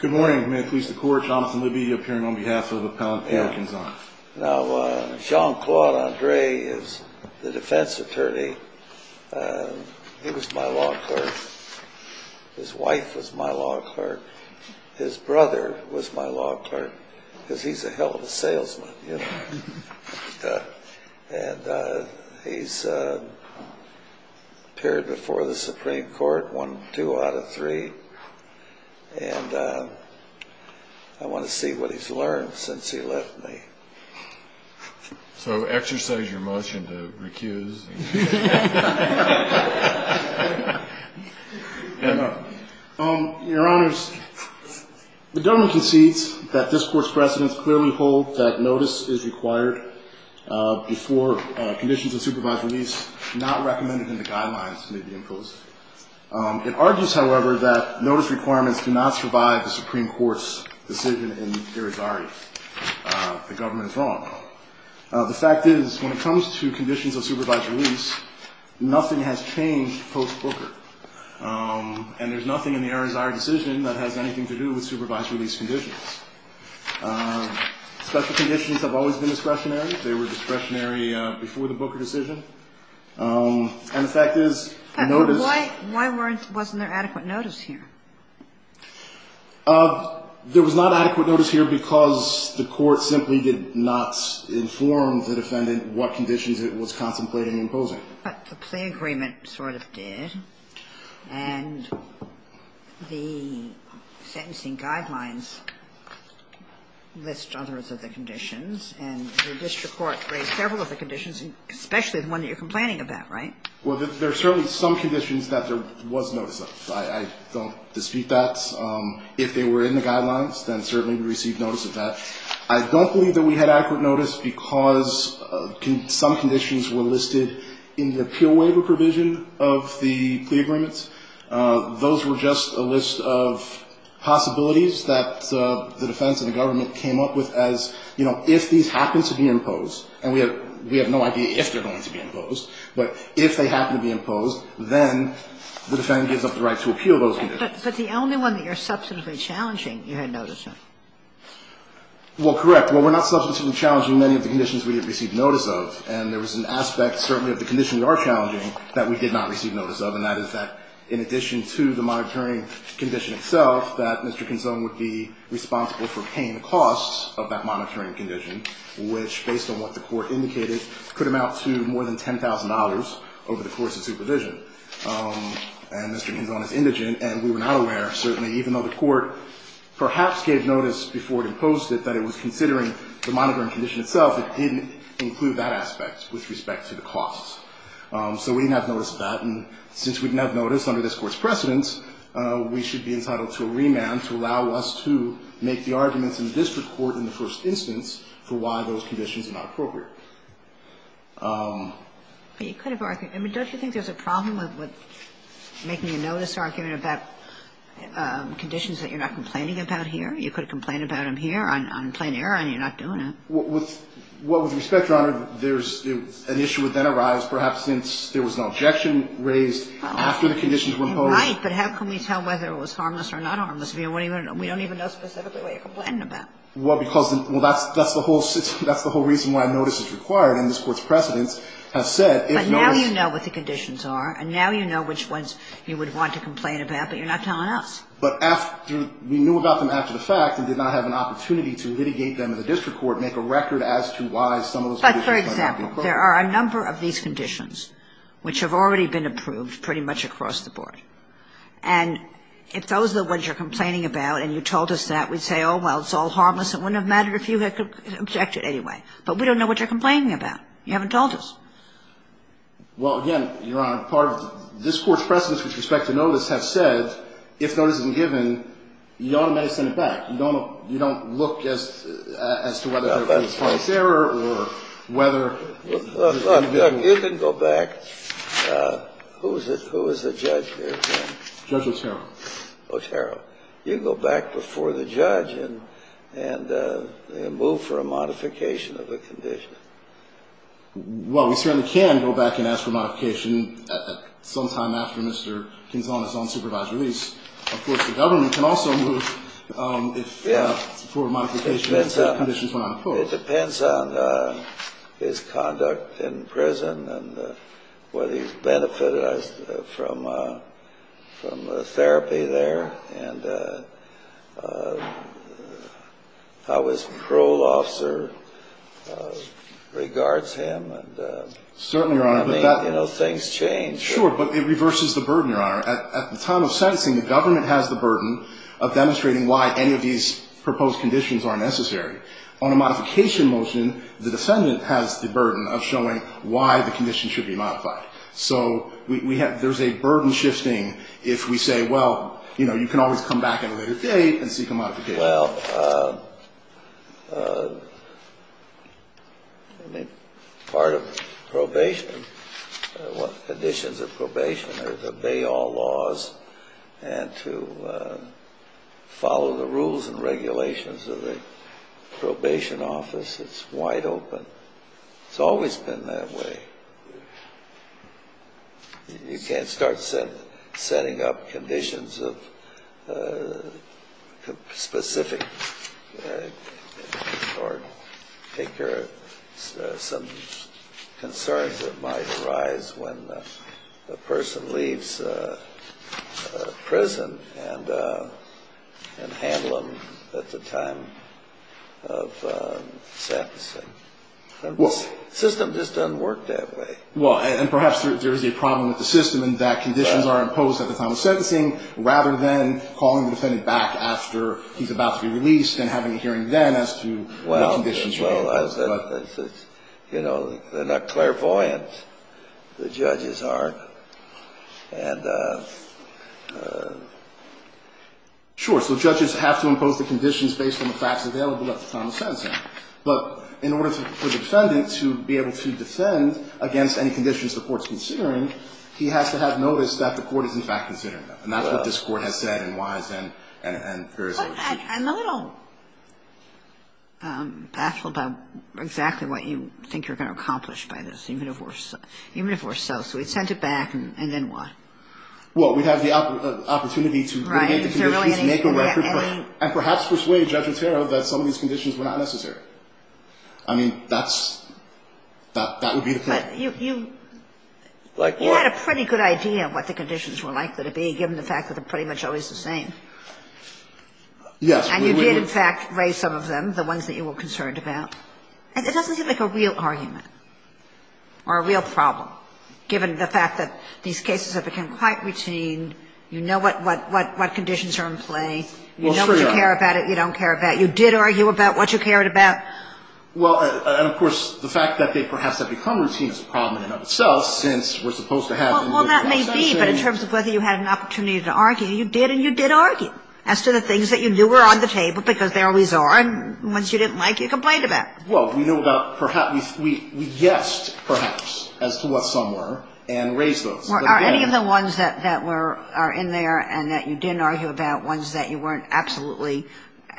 Good morning. May it please the court, Jonathan Libby, appearing on behalf of Appellant Pio Quinzon. Now, Jean-Claude Andre is the defense attorney. He was my law clerk. His wife was my law clerk. His brother was my law clerk, because he's a hell of a salesman, you know. And he's appeared before the Supreme Court one, two out of three. And I want to see what he's learned since he left me. So exercise your motion to recuse. Your Honors, the government concedes that this Court's precedents clearly hold that notice is required before conditions of supervised release not recommended in the guidelines may be imposed. It argues, however, that notice requirements do not survive the Supreme Court's decision in Irizarry. The government is wrong. The fact is, when it comes to conditions of supervised release, nothing has changed post-Booker. And there's nothing in the Irizarry decision that has anything to do with supervised release conditions. Special conditions have always been discretionary. They were discretionary before the Booker decision. And the fact is, notice ---- Why wasn't there adequate notice here? There was not adequate notice here because the Court simply did not inform the defendant what conditions it was contemplating imposing. But the plea agreement sort of did. And the sentencing guidelines list others of the conditions. And the district court raised several of the conditions, especially the one that you're complaining about, right? Well, there are certainly some conditions that there was notice of. I don't dispute that. If they were in the guidelines, then certainly we received notice of that. I don't believe that we had adequate notice because some conditions were listed in the appeal waiver provision of the plea agreements. Those were just a list of possibilities that the defense and the government came up with as, you know, if these happen to be imposed, and we have no idea if they're going to be imposed, but if they happen to be imposed, then the defendant gives up the right to appeal those conditions. But the only one that you're substantively challenging you had notice of. Well, correct. Well, we're not substantively challenging many of the conditions we didn't receive notice of, and there was an aspect certainly of the condition we are challenging that we did not receive notice of, and that is that in addition to the monitoring condition itself, that Mr. Kinzon would be responsible for paying the costs of that the Court indicated could amount to more than $10,000 over the course of supervision. And Mr. Kinzon is indigent, and we were not aware, certainly, even though the Court perhaps gave notice before it imposed it that it was considering the monitoring condition itself, it didn't include that aspect with respect to the costs. So we didn't have notice of that, and since we didn't have notice under this Court's precedence, we should be entitled to a remand to allow us to make the arguments in the district court in the first instance for why those conditions are not appropriate. But you could have argued. I mean, don't you think there's a problem with making a notice argument about conditions that you're not complaining about here? You could have complained about them here on plain error, and you're not doing it. Well, with respect, Your Honor, there's an issue would then arise perhaps since there was an objection raised after the conditions were imposed. You're right, but how can we tell whether it was harmless or not harmless? We don't even know specifically what you're complaining about. Well, because that's the whole system. That's the whole reason why notice is required, and this Court's precedence has said if notice. But now you know what the conditions are, and now you know which ones you would want to complain about, but you're not telling us. But after we knew about them after the fact and did not have an opportunity to litigate them in the district court, make a record as to why some of those conditions might not be appropriate. But, for example, there are a number of these conditions which have already been approved pretty much across the board. And if those are the ones you're complaining about and you told us that, we'd say, oh, well, it's all harmless, it wouldn't have mattered if you had objected anyway. But we don't know what you're complaining about. You haven't told us. Well, again, Your Honor, part of this Court's precedence with respect to notice has said if notice isn't given, you ought to send it back. You don't look as to whether there was plain error or whether there was individual You can go back. Who was the judge there again? Judge Otero. Otero. You can go back before the judge and move for a modification of the condition. Well, we certainly can go back and ask for modification sometime after Mr. Quintana's unsupervised release. Of course, the government can also move for a modification if conditions were not approved. It depends on his conduct in prison and whether he's benefited from therapy there and how his parole officer regards him. Certainly, Your Honor. You know, things change. Sure, but it reverses the burden, Your Honor. At the time of sentencing, the government has the burden of demonstrating why any of these proposed conditions are necessary. On a modification motion, the defendant has the burden of showing why the condition should be modified. So there's a burden shifting if we say, well, you know, you can always come back at a later date and seek a modification. Well, part of probation, conditions of probation are to obey all laws and to follow the rules and regulations of the probation office. It's wide open. It's always been that way. You can't start setting up conditions of specific or take care of some concerns that might arise when a person leaves prison and handle them at the time of sentencing. The system just doesn't work that way. Well, and perhaps there is a problem with the system in that conditions are imposed at the time of sentencing rather than calling the defendant back after he's about to be released and having a hearing then as to what conditions should be imposed. Well, you know, they're not clairvoyant, the judges are. And sure, so judges have to impose the conditions based on the facts available at the time of sentencing. But in order for the defendant to be able to defend against any conditions the court is considering, he has to have noticed that the court is, in fact, considering them. And that's what this Court has said in Wise and Ferris. I'm a little baffled about exactly what you think you're going to accomplish by this, even if we're so. So we'd send it back and then what? Well, we'd have the opportunity to mitigate the conditions, make a record, and perhaps persuade Judge Otero that some of these conditions were not necessary. I mean, that would be the point. But you had a pretty good idea of what the conditions were likely to be, given the fact that they're pretty much always the same. Yes. And you did, in fact, raise some of them, the ones that you were concerned about. And it doesn't seem like a real argument or a real problem, given the fact that these cases have become quite routine. You know what conditions are in play. You know what you care about. You don't care about. You did argue about what you cared about. Well, and, of course, the fact that they perhaps have become routine is a problem in and of itself, since we're supposed to have a minimum of sentencing. Well, that may be. But in terms of whether you had an opportunity to argue, you did and you did argue as to the things that you knew were on the table, because they always are. And once you didn't like it, you complained about it. Well, we know about perhaps we guessed perhaps as to what some were and raised those. Are any of the ones that are in there and that you didn't argue about ones that you weren't absolutely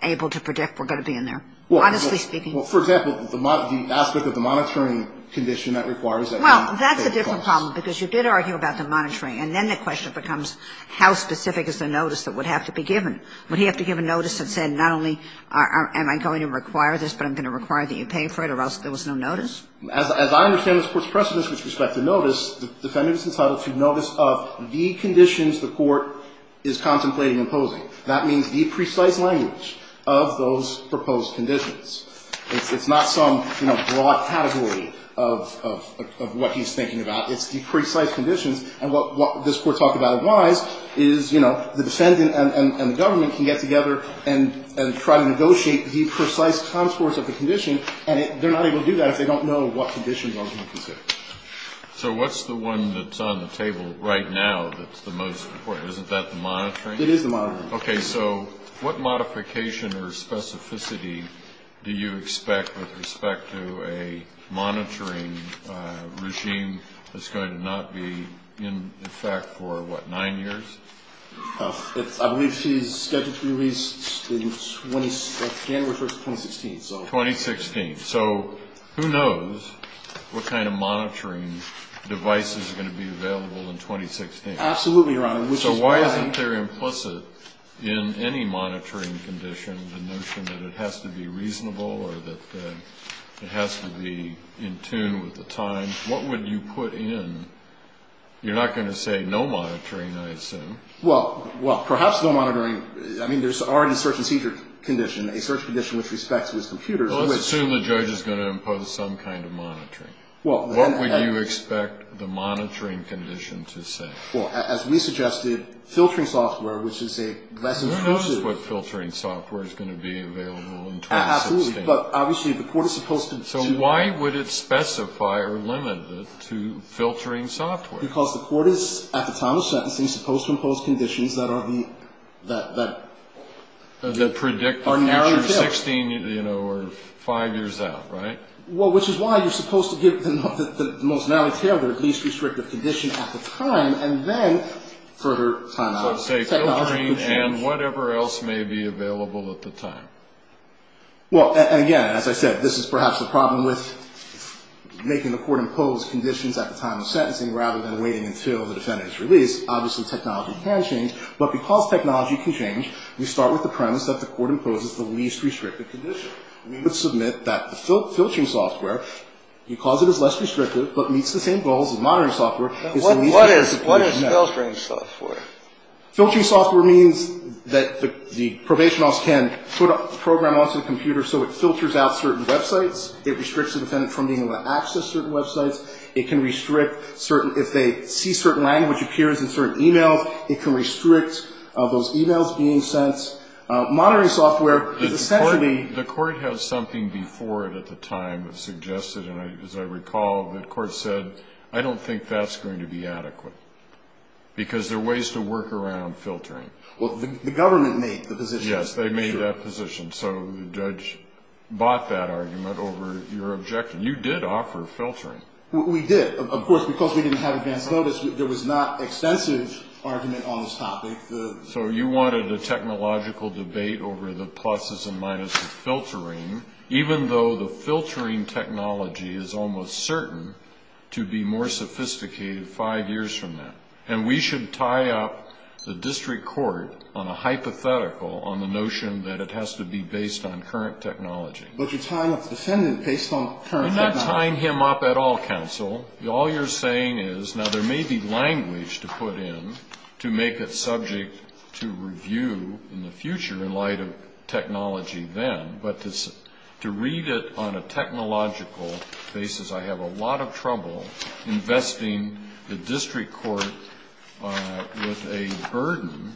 able to predict were going to be in there, honestly speaking? Well, for example, the aspect of the monitoring condition that requires that we take those. Well, that's a different problem, because you did argue about the monitoring. And then the question becomes how specific is the notice that would have to be given? Would he have to give a notice that said not only am I going to require this, but I'm going to require that you pay for it, or else there was no notice? As I understand this Court's precedence with respect to notice, the defendant is entitled to notice of the conditions the court is contemplating imposing. That means the precise language of those proposed conditions. It's not some, you know, broad category of what he's thinking about. It's the precise conditions. And what this Court talked about in Wise is, you know, the defendant and the government can get together and try to negotiate the precise contours of the condition, and they're not able to do that if they don't know what conditions are to be considered. So what's the one that's on the table right now that's the most important? Isn't that the monitoring? It is the monitoring. Okay. So what modification or specificity do you expect with respect to a monitoring regime that's going to not be in effect for, what, nine years? I believe she's scheduled to be released January 1, 2016. 2016. So who knows what kind of monitoring devices are going to be available in 2016? Absolutely, Your Honor. So why isn't there implicit in any monitoring condition the notion that it has to be reasonable or that it has to be in tune with the time? What would you put in? You're not going to say no monitoring, I assume. Well, perhaps no monitoring. I mean, there's already a search and seizure condition, a search condition with respect to his computer. Well, let's assume the judge is going to impose some kind of monitoring. What would you expect the monitoring condition to say? Well, as we suggested, filtering software, which is a less inclusive. Who knows what filtering software is going to be available in 2016? Absolutely. But obviously the court is supposed to. So why would it specify or limit it to filtering software? Because the court is, at the time of sentencing, supposed to impose conditions that are the... That predict the future... Are narrowly tailored. Sixteen, you know, or five years out, right? Well, which is why you're supposed to give the most narrowly tailored, least restrictive condition at the time, and then further time out. So say filtering and whatever else may be available at the time. Well, and again, as I said, this is perhaps the problem with making the court impose conditions at the time of sentencing rather than waiting until the defendant is released. Obviously technology can change, but because technology can change, we start with the premise that the court imposes the least restrictive condition. We would submit that the filtering software, because it is less restrictive, but meets the same goals as monitoring software, is the least restrictive condition. What is filtering software? Filtering software means that the probation office can put a program onto the computer so it filters out certain websites. It restricts the defendant from being able to access certain websites. It can restrict certain... If they see certain language appears in certain e-mails, it can restrict those e-mails being sent. Monitoring software is essentially... The court has something before it at the time that suggested, and as I recall, the court said, I don't think that's going to be adequate because there are ways to work around filtering. Well, the government made the position. Yes, they made that position, so the judge bought that argument over your objection. You did offer filtering. We did. Of course, because we didn't have advance notice, there was not extensive argument on this topic. even though the filtering technology is almost certain to be more sophisticated five years from now. And we should tie up the district court on a hypothetical, on the notion that it has to be based on current technology. But you're tying up the defendant based on current technology. You're not tying him up at all, counsel. All you're saying is, now, there may be language to put in to make it subject to review in the future in light of technology then, but to read it on a technological basis, I have a lot of trouble investing the district court with a burden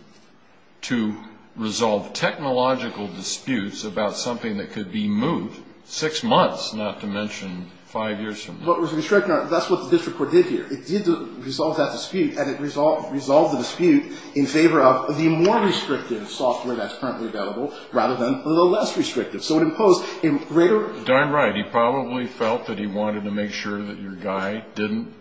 to resolve technological disputes about something that could be moved six months, not to mention five years from now. What was restricted, that's what the district court did here. It did resolve that dispute, and it resolved the dispute in favor of the more restrictive software that's currently available rather than the less restrictive. So it imposed a greater... Darn right. He probably felt that he wanted to make sure that your guy didn't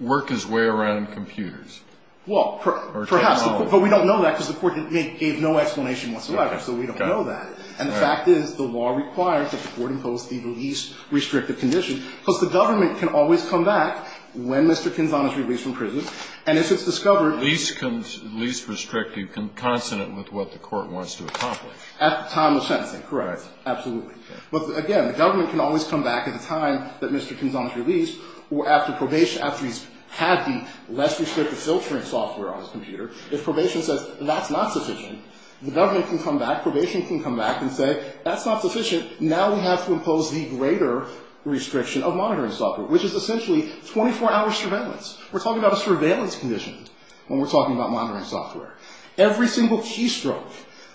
work his way around computers. Well, perhaps. Or technology. But we don't know that because the court gave no explanation whatsoever. Okay. So we don't know that. And the fact is, the law requires that the court impose the least restrictive condition because the government can always come back when Mr. Kinzon is released from prison, and if it's discovered... The least restrictive consonant with what the court wants to accomplish. At the time of sentencing. Correct. Absolutely. But, again, the government can always come back at the time that Mr. Kinzon is released or after probation, after he's had the less restrictive filtering software on his computer. If probation says, that's not sufficient, the government can come back, probation can come back and say, that's not sufficient. Now we have to impose the greater restriction of monitoring software, which is essentially 24-hour surveillance. We're talking about a surveillance condition when we're talking about monitoring software. Every single keystroke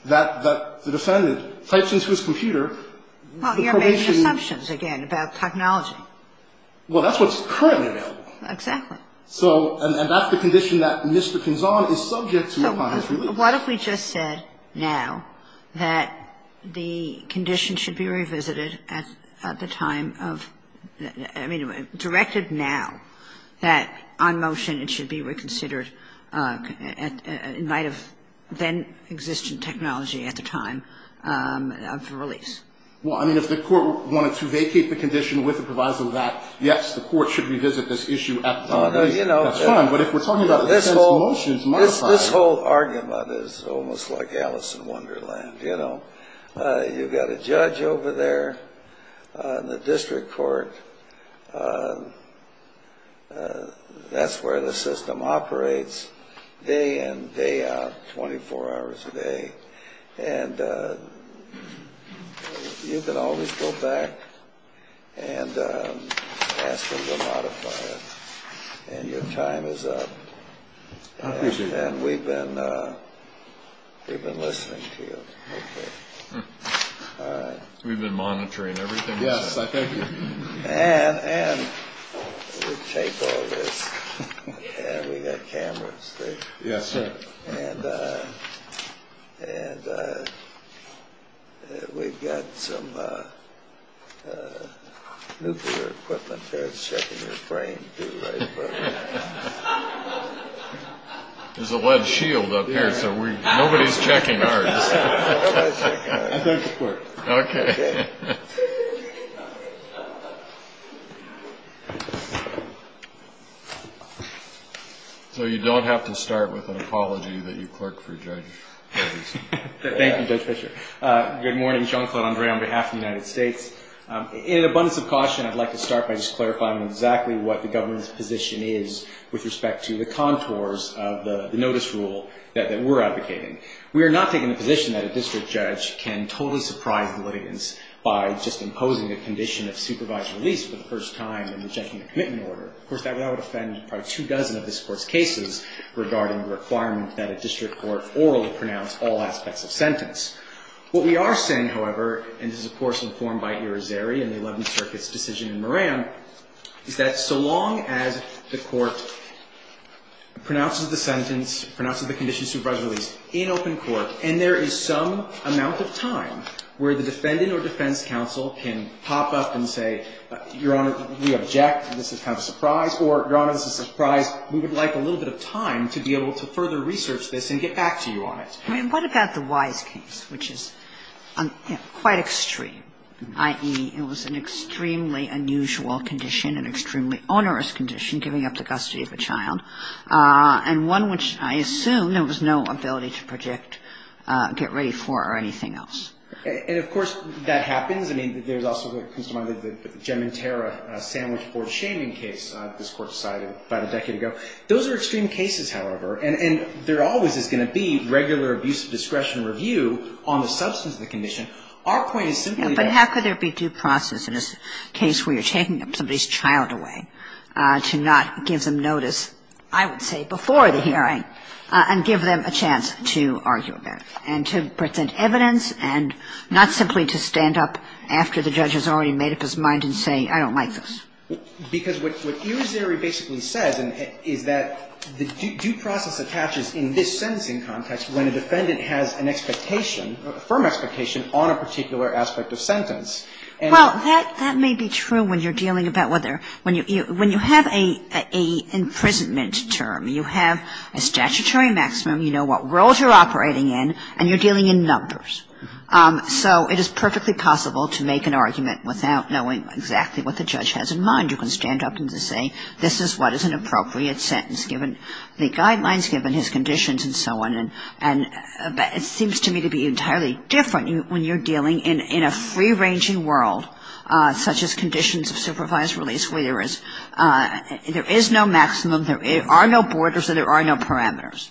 that the defendant types into his computer... Well, you're making assumptions, again, about technology. Well, that's what's currently available. Exactly. So, and that's the condition that Mr. Kinzon is subject to upon his release. What if we just said now that the condition should be revisited at the time of, I mean, directed now, that on motion it should be reconsidered in light of then-existent technology at the time of release? Well, I mean, if the court wanted to vacate the condition with the proviso that, yes, the court should revisit this issue at the time. That's fine. But if we're talking about a sentencing motion, it's my time. This whole argument is almost like Alice in Wonderland, you know. You've got a judge over there in the district court. That's where the system operates day in, day out, 24 hours a day. And you can always go back and ask them to modify it. And your time is up. I appreciate it. And we've been listening to you. Okay. All right. We've been monitoring everything. Yes, I thank you. And we take all this. And we've got cameras, too. Yes, sir. And we've got some nuclear equipment there checking the frame, too, I suppose. There's a lead shield up here, so nobody's checking ours. Okay. So you don't have to start with an apology that you clerked for Judge Fischer. Thank you, Judge Fischer. Good morning. Jean-Claude Andre on behalf of the United States. In an abundance of caution, I'd like to start by just clarifying exactly what the government's position is with respect to the contours of the notice rule that we're advocating. We are not taking the position that a district judge can totally surprise the litigants by just imposing a condition of supervised release for the first time and rejecting a commitment order. Of course, that would offend probably two dozen of this Court's cases regarding the requirement that a district court orally pronounce all aspects of sentence. What we are saying, however, and this is, of course, informed by Ira Zeri and the Eleventh Circuit's decision in Moran, is that so long as the Court pronounces the sentence, pronounces the condition of supervised release in open court, and there is some amount of time where the defendant or defense counsel can pop up and say, Your Honor, we object, this is kind of a surprise, or, Your Honor, this is a surprise, we would like a little bit of time to be able to further research this and get back to you on it. I mean, what about the Wise case, which is quite extreme, i.e., it was an extremely unusual condition, an extremely onerous condition, giving up the custody of a child, and one which I assume there was no ability to project, get ready for, or anything else? And, of course, that happens. I mean, there's also what comes to mind is the Gementera sandwich for shaming case this Court decided about a decade ago. Those are extreme cases, however. And there always is going to be regular abuse of discretion review on the substance of the condition. Our point is simply that ---- But how could there be due process in a case where you're taking somebody's child away to not give them notice, I would say, before the hearing and give them a chance to argue about it and to present evidence and not simply to stand up after the judge has already made up his mind and say, I don't like this? Because what iris theory basically says is that the due process attaches in this sentencing context when a defendant has an expectation, a firm expectation, on a particular aspect of sentence. And ---- Well, that may be true when you're dealing about whether ---- when you have an imprisonment term, you have a statutory maximum, you know what roles you're operating in, and you're dealing in numbers. So it is perfectly possible to make an argument without knowing exactly what the judge has in mind. You can stand up and just say, this is what is an appropriate sentence given the guidelines, given his conditions, and so on. And it seems to me to be entirely different when you're dealing in a free-ranging world such as conditions of supervised release where there is no maximum, there are no borders, and there are no parameters.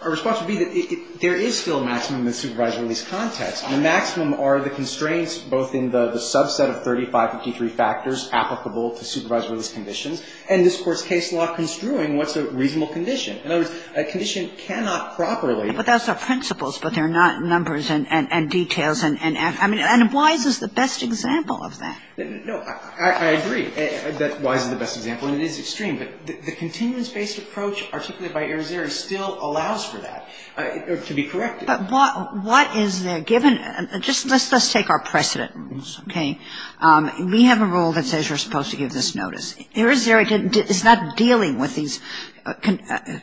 Our response would be that there is still a maximum in the supervised release context. The maximum are the constraints both in the subset of 3553 factors applicable to supervised release conditions, and this Court's case law construing what's a reasonable condition. In other words, a condition cannot properly ---- But those are principles, but they're not numbers and details and ---- and Wise is the best example of that. No. I agree that Wise is the best example, and it is extreme. But the continuance-based approach articulated by Irizarry still allows for that to be corrected. But what is there given ---- just let's take our precedent rules, okay? We have a rule that says you're supposed to give this notice. Irizarry is not dealing with these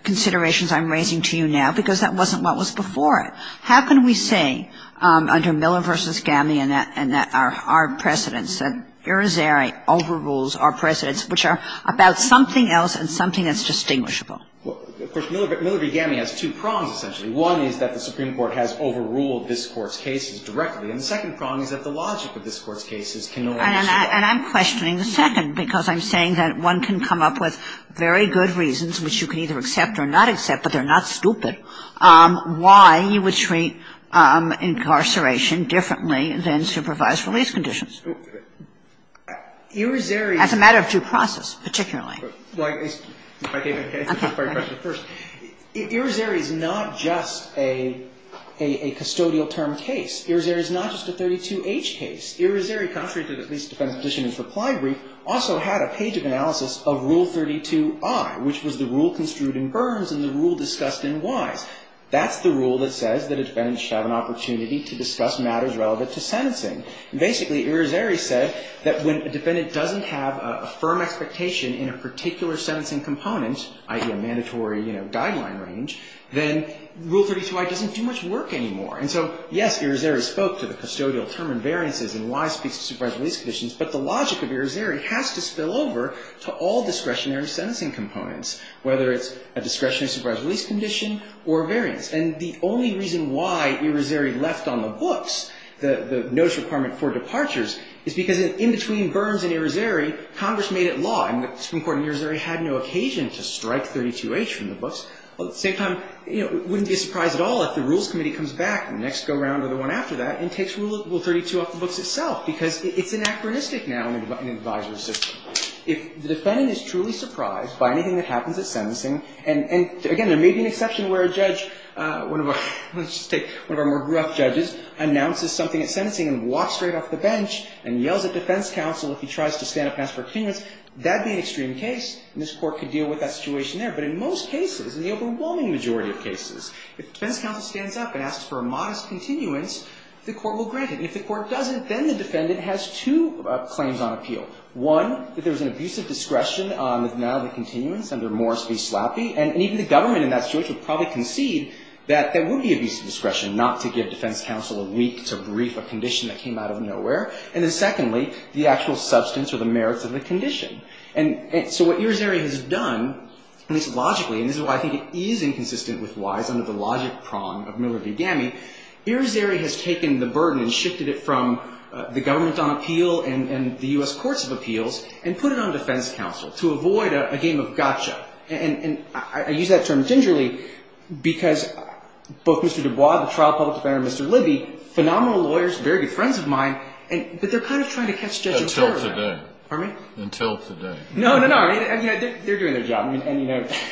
considerations I'm raising to you now because that wasn't what was before it. How can we say under Miller v. Gamme and our precedents that Irizarry overrules our precedents, which are about something else and something that's distinguishable? Of course, Miller v. Gamme has two prongs, essentially. One is that the Supreme Court has overruled this Court's cases directly, and the second prong is that the logic of this Court's cases can no longer be ---- And I'm questioning the second because I'm saying that one can come up with very good reasons, which you can either accept or not accept, but they're not stupid, why you would treat incarceration differently than supervised release conditions. Irizarry ---- That's a matter of due process, particularly. Well, if I can answer your question first. Irizarry is not just a custodial term case. Irizarry is not just a 32H case. Irizarry, contrary to at least the defense position in its reply brief, also had a page of analysis of Rule 32I, which was the rule construed in Burns and the rule discussed in Wise. That's the rule that says that a defendant should have an opportunity to discuss matters relevant to sentencing. Basically, Irizarry said that when a defendant doesn't have a firm expectation in a particular sentencing component, i.e., a mandatory, you know, guideline range, then Rule 32I doesn't do much work anymore. And so, yes, Irizarry spoke to the custodial term and variances in Wise speaks to supervised release conditions, but the logic of Irizarry has to spill over to all discretionary sentencing components, whether it's a discretionary supervised release condition or variance. And the only reason why Irizarry left on the books the notice requirement for departures is because in between Burns and Irizarry, Congress made it law. I mean, the Supreme Court in Irizarry had no occasion to strike 32H from the books. At the same time, you know, it wouldn't be a surprise at all if the Rules Committee comes back in the next go-round or the one after that and takes Rule 32 off the books itself because it's anachronistic now in an advisory system. If the defendant is truly surprised by anything that happens at sentencing, and again, there may be an exception where a judge, let's just take one of our more gruff judges, announces something at sentencing and walks straight off the bench and yells at defense counsel if he tries to stand up and ask for continuance, that would be an extreme case, and this Court could deal with that situation there. But in most cases, in the overwhelming majority of cases, if defense counsel stands up and asks for a modest continuance, the Court will grant it. And if the Court doesn't, then the defendant has two claims on appeal. One, that there was an abusive discretion on the denial of the continuance under Morris v. Slappy, and even the government in that situation would probably concede that there would be abusive discretion not to give defense counsel a week to brief a condition that came out of nowhere. And then secondly, the actual substance or the merits of the condition. And so what Irizarry has done, at least logically, and this is why I think it is inconsistent with Wise under the logic prong of Miller v. Gammey, Irizarry has taken the burden and shifted it from the government on appeal and the U.S. Courts of Appeals and put it on defense counsel to avoid a game of gotcha. And I use that term gingerly because both Mr. Dubois, the trial public defender, and Mr. Libby, phenomenal lawyers, very good friends of mine, but they're kind of trying to catch Judge Otero there. Until today. Pardon me? Until today. No, no, no. I mean, they're doing their job, and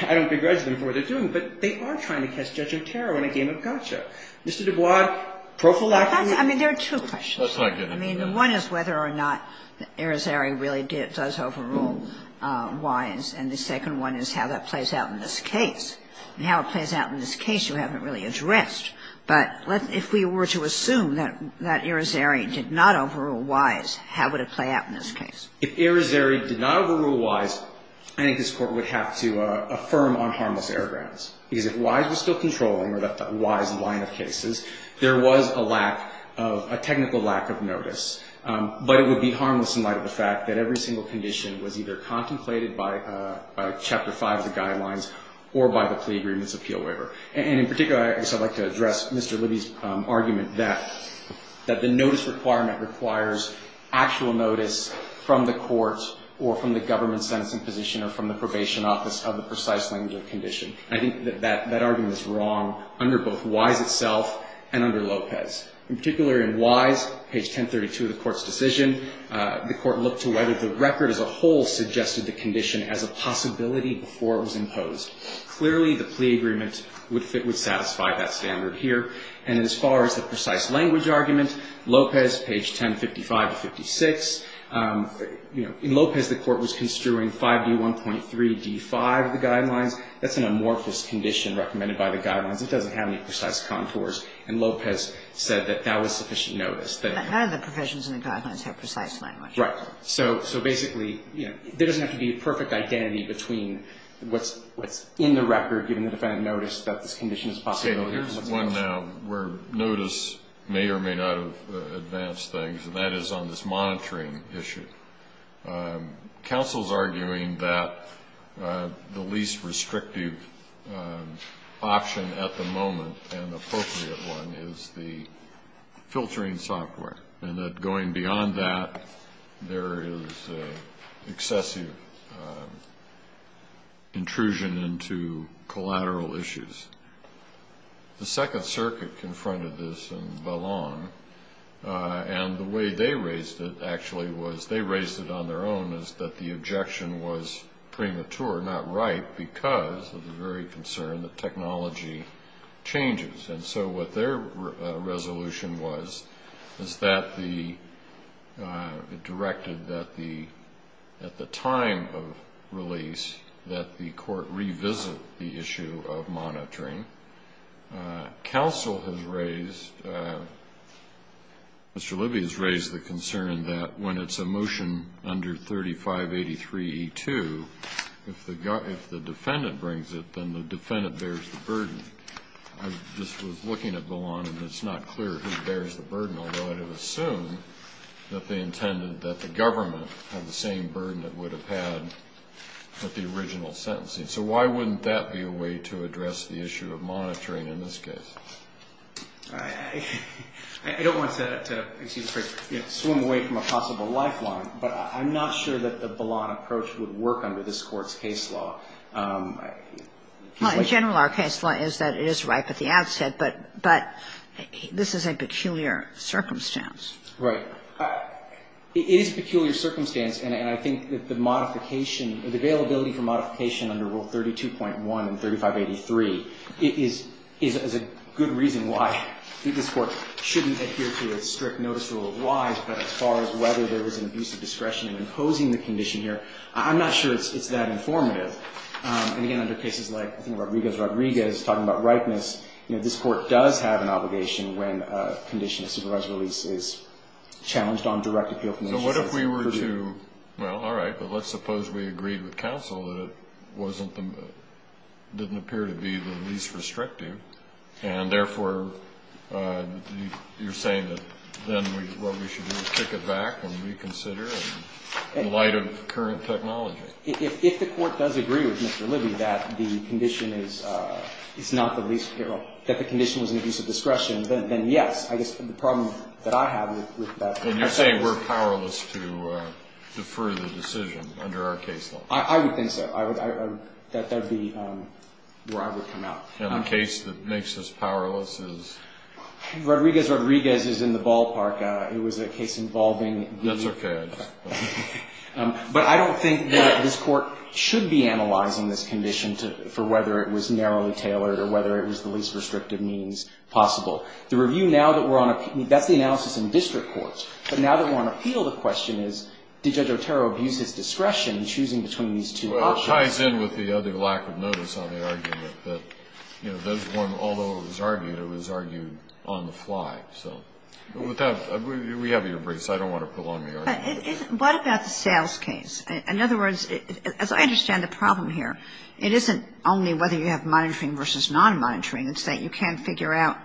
I don't begrudge them for what they're doing, but they are trying to catch Judge Otero in a game of gotcha. Mr. Dubois, prophylactic. I mean, there are two questions. I mean, one is whether or not Irizarry really did, does overrule Wise. And the second one is how that plays out in this case. And how it plays out in this case you haven't really addressed. But if we were to assume that Irizarry did not overrule Wise, how would it play out in this case? If Irizarry did not overrule Wise, I think this Court would have to affirm on harmless Because if Wise was still controlling, or the Wise line of cases, there was a lack of, a technical lack of notice. But it would be harmless in light of the fact that every single condition was either contemplated by Chapter 5 of the guidelines or by the plea agreements appeal waiver. And in particular, I guess I'd like to address Mr. Libby's argument that the notice requirement requires actual notice from the court or from the government sentencing position or from the probation office of the precise language of the condition. I think that that argument is wrong under both Wise itself and under Lopez. In particular, in Wise, page 1032 of the Court's decision, the Court looked to whether the record as a whole suggested the condition as a possibility before it was imposed. Clearly, the plea agreement would fit, would satisfy that standard here. And as far as the precise language argument, Lopez, page 1055 to 56, you know, in Lopez, the Court was construing 5D1.3D5 of the guidelines. That's an amorphous condition recommended by the guidelines. It doesn't have any precise contours. And Lopez said that that was sufficient notice. But none of the provisions in the guidelines have precise language. Right. So basically, you know, there doesn't have to be a perfect identity between what's in the record, given the defendant noticed that this condition is a possibility or what's not. Okay. Here's one now where notice may or may not have advanced things, and that is on this Council's arguing that the least restrictive option at the moment, an appropriate one, is the filtering software, and that going beyond that, there is excessive intrusion into collateral issues. The Second Circuit confronted this in Vallon, and the way they raised it, actually, was they raised it on their own, is that the objection was premature, not right, because of the very concern that technology changes. And so what their resolution was is that it directed that at the time of release, that the Court revisit the issue of monitoring. Counsel has raised, Mr. Libby has raised the concern that when it's a motion under 3583E2, if the defendant brings it, then the defendant bears the burden. I just was looking at Vallon, and it's not clear who bears the burden, although I would assume that they intended that the government had the same burden it would have had with the original sentencing. So why wouldn't that be a way to address the issue of monitoring in this case? I don't want to swim away from a possible lifeline, but I'm not sure that the Vallon approach would work under this Court's case law. Well, in general, our case law is that it is ripe at the outset, but this is a peculiar circumstance. Right. It is a peculiar circumstance, and I think that the modification, the availability for modification under Rule 32.1 and 3583 is a good reason why this Court shouldn't adhere to its strict notice rule of why, but as far as whether there was an abuse of discretion in imposing the condition here, I'm not sure it's that informative. And, again, under cases like, I think, Rodriguez-Rodriguez, talking about ripeness, this Court does have an obligation when a condition of supervised release is challenged on direct appeal. So what if we were to, well, all right, but let's suppose we agreed with counsel that it didn't appear to be the least restrictive and, therefore, you're saying that then what we should do is kick it back and reconsider in light of current technology. If the Court does agree with Mr. Libby that the condition is not the least, that the condition was an abuse of discretion, then, yes, I guess the problem that I have with that is. And you're saying we're powerless to defer the decision under our case law? I would think so. That would be where I would come out. And the case that makes us powerless is? Rodriguez-Rodriguez is in the ballpark. It was a case involving. That's okay. But I don't think that this Court should be analyzing this condition for whether it was narrowly tailored or whether it was the least restrictive means possible. The review now that we're on a, that's the analysis in district courts. But now that we're on appeal, the question is did Judge Otero abuse his discretion in choosing between these two options? Well, it ties in with the other lack of notice on the argument that, you know, there's one, although it was argued, it was argued on the fly. So with that, we have your briefs. I don't want to prolong the argument. But what about the sales case? In other words, as I understand the problem here, it isn't only whether you have monitoring versus non-monitoring. It's that you can't figure out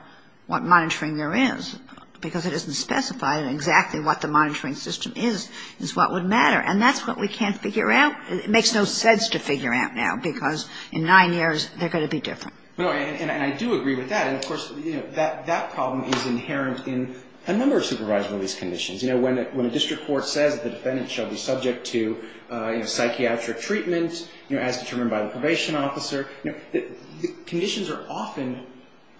what monitoring there is, because it isn't specified exactly what the monitoring system is, is what would matter. And that's what we can't figure out. It makes no sense to figure out now, because in nine years, they're going to be different. And I do agree with that. And, of course, you know, that problem is inherent in a number of supervisory release conditions. You know, when a district court says the defendant shall be subject to, you know, psychiatric treatment, you know, as determined by the probation officer, conditions are often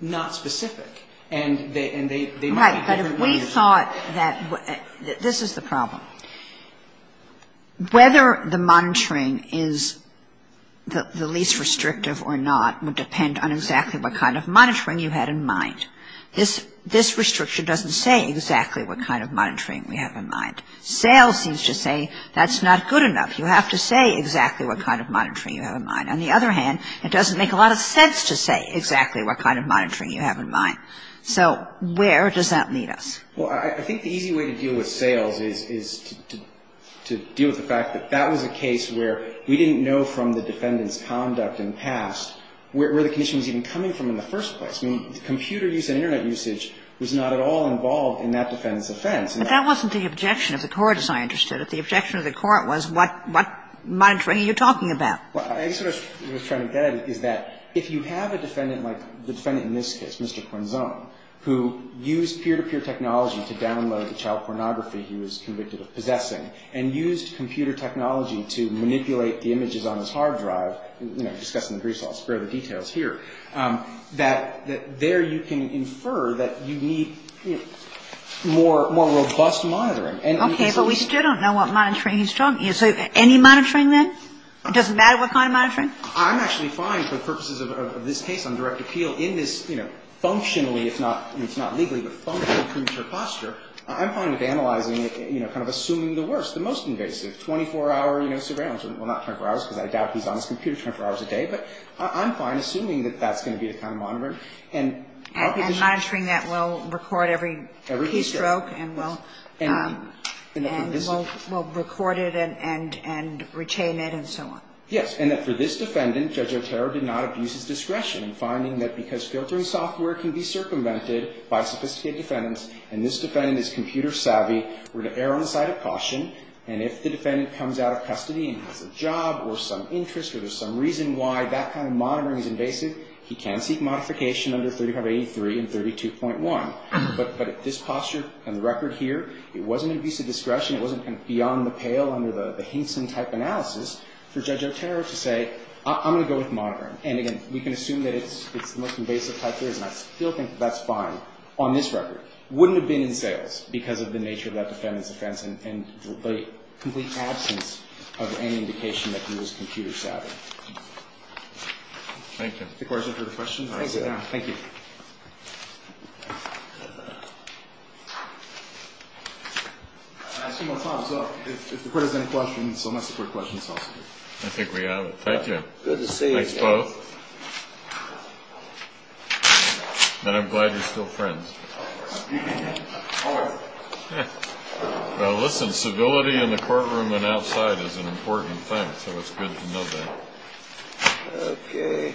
not specific. And they might be different. Right. But if we thought that this is the problem, whether the monitoring is the least restrictive or not would depend on exactly what kind of monitoring you had in mind. This restriction doesn't say exactly what kind of monitoring we have in mind. Sales seems to say that's not good enough. You have to say exactly what kind of monitoring you have in mind. On the other hand, it doesn't make a lot of sense to say exactly what kind of monitoring you have in mind. So where does that lead us? Well, I think the easy way to deal with sales is to deal with the fact that that was a case where we didn't know from the defendant's conduct in the past where the condition was even coming from in the first place. I mean, computer use and Internet usage was not at all involved in that defendant's offense. But that wasn't the objection of the court, as I understood it. The objection of the court was what monitoring are you talking about? Well, I guess what I was trying to get at is that if you have a defendant like the defendant in this case, Mr. Quinzone, who used peer-to-peer technology to download the child pornography he was convicted of possessing and used computer technology to manipulate the images on his hard drive, you know, discussing the grease, I'll spare the details here, that there you can infer that you need more robust monitoring. Okay. But we still don't know what monitoring he's talking about. So any monitoring, then? It doesn't matter what kind of monitoring? I'm actually fine for the purposes of this case on direct appeal in this, you know, functionally, if not legally, but functional premature posture. I'm fine with analyzing it, you know, kind of assuming the worst, the most invasive, 24-hour surveillance. Well, not 24 hours, because I doubt he's on his computer 24 hours a day. But I'm fine assuming that that's going to be the kind of monitoring. And monitoring that will record every keystroke and will record it. And retain it and so on. Yes. And that for this defendant, Judge Otero did not abuse his discretion in finding that because filtering software can be circumvented by sophisticated defendants, and this defendant is computer savvy, we're to err on the side of caution. And if the defendant comes out of custody and has a job or some interest or there's some reason why that kind of monitoring is invasive, he can seek modification under 3583 and 32.1. But this posture on the record here, it wasn't an abuse of discretion. It wasn't kind of beyond the pale under the Hinson-type analysis for Judge Otero to say, I'm going to go with monitoring. And, again, we can assume that it's the most invasive type here, and I still think that that's fine on this record. It wouldn't have been in sales because of the nature of that defendant's offense and the complete absence of any indication that he was computer savvy. Thank you. The Court has answered the question. Thank you. Thank you. I'll ask you one more time. So if the Court has any questions, I'll ask the Court questions also. I think we have. Thank you. Good to see you. Thanks, both. And I'm glad you're still friends. Well, listen, civility in the courtroom and outside is an important thing, so it's good to know that. Okay.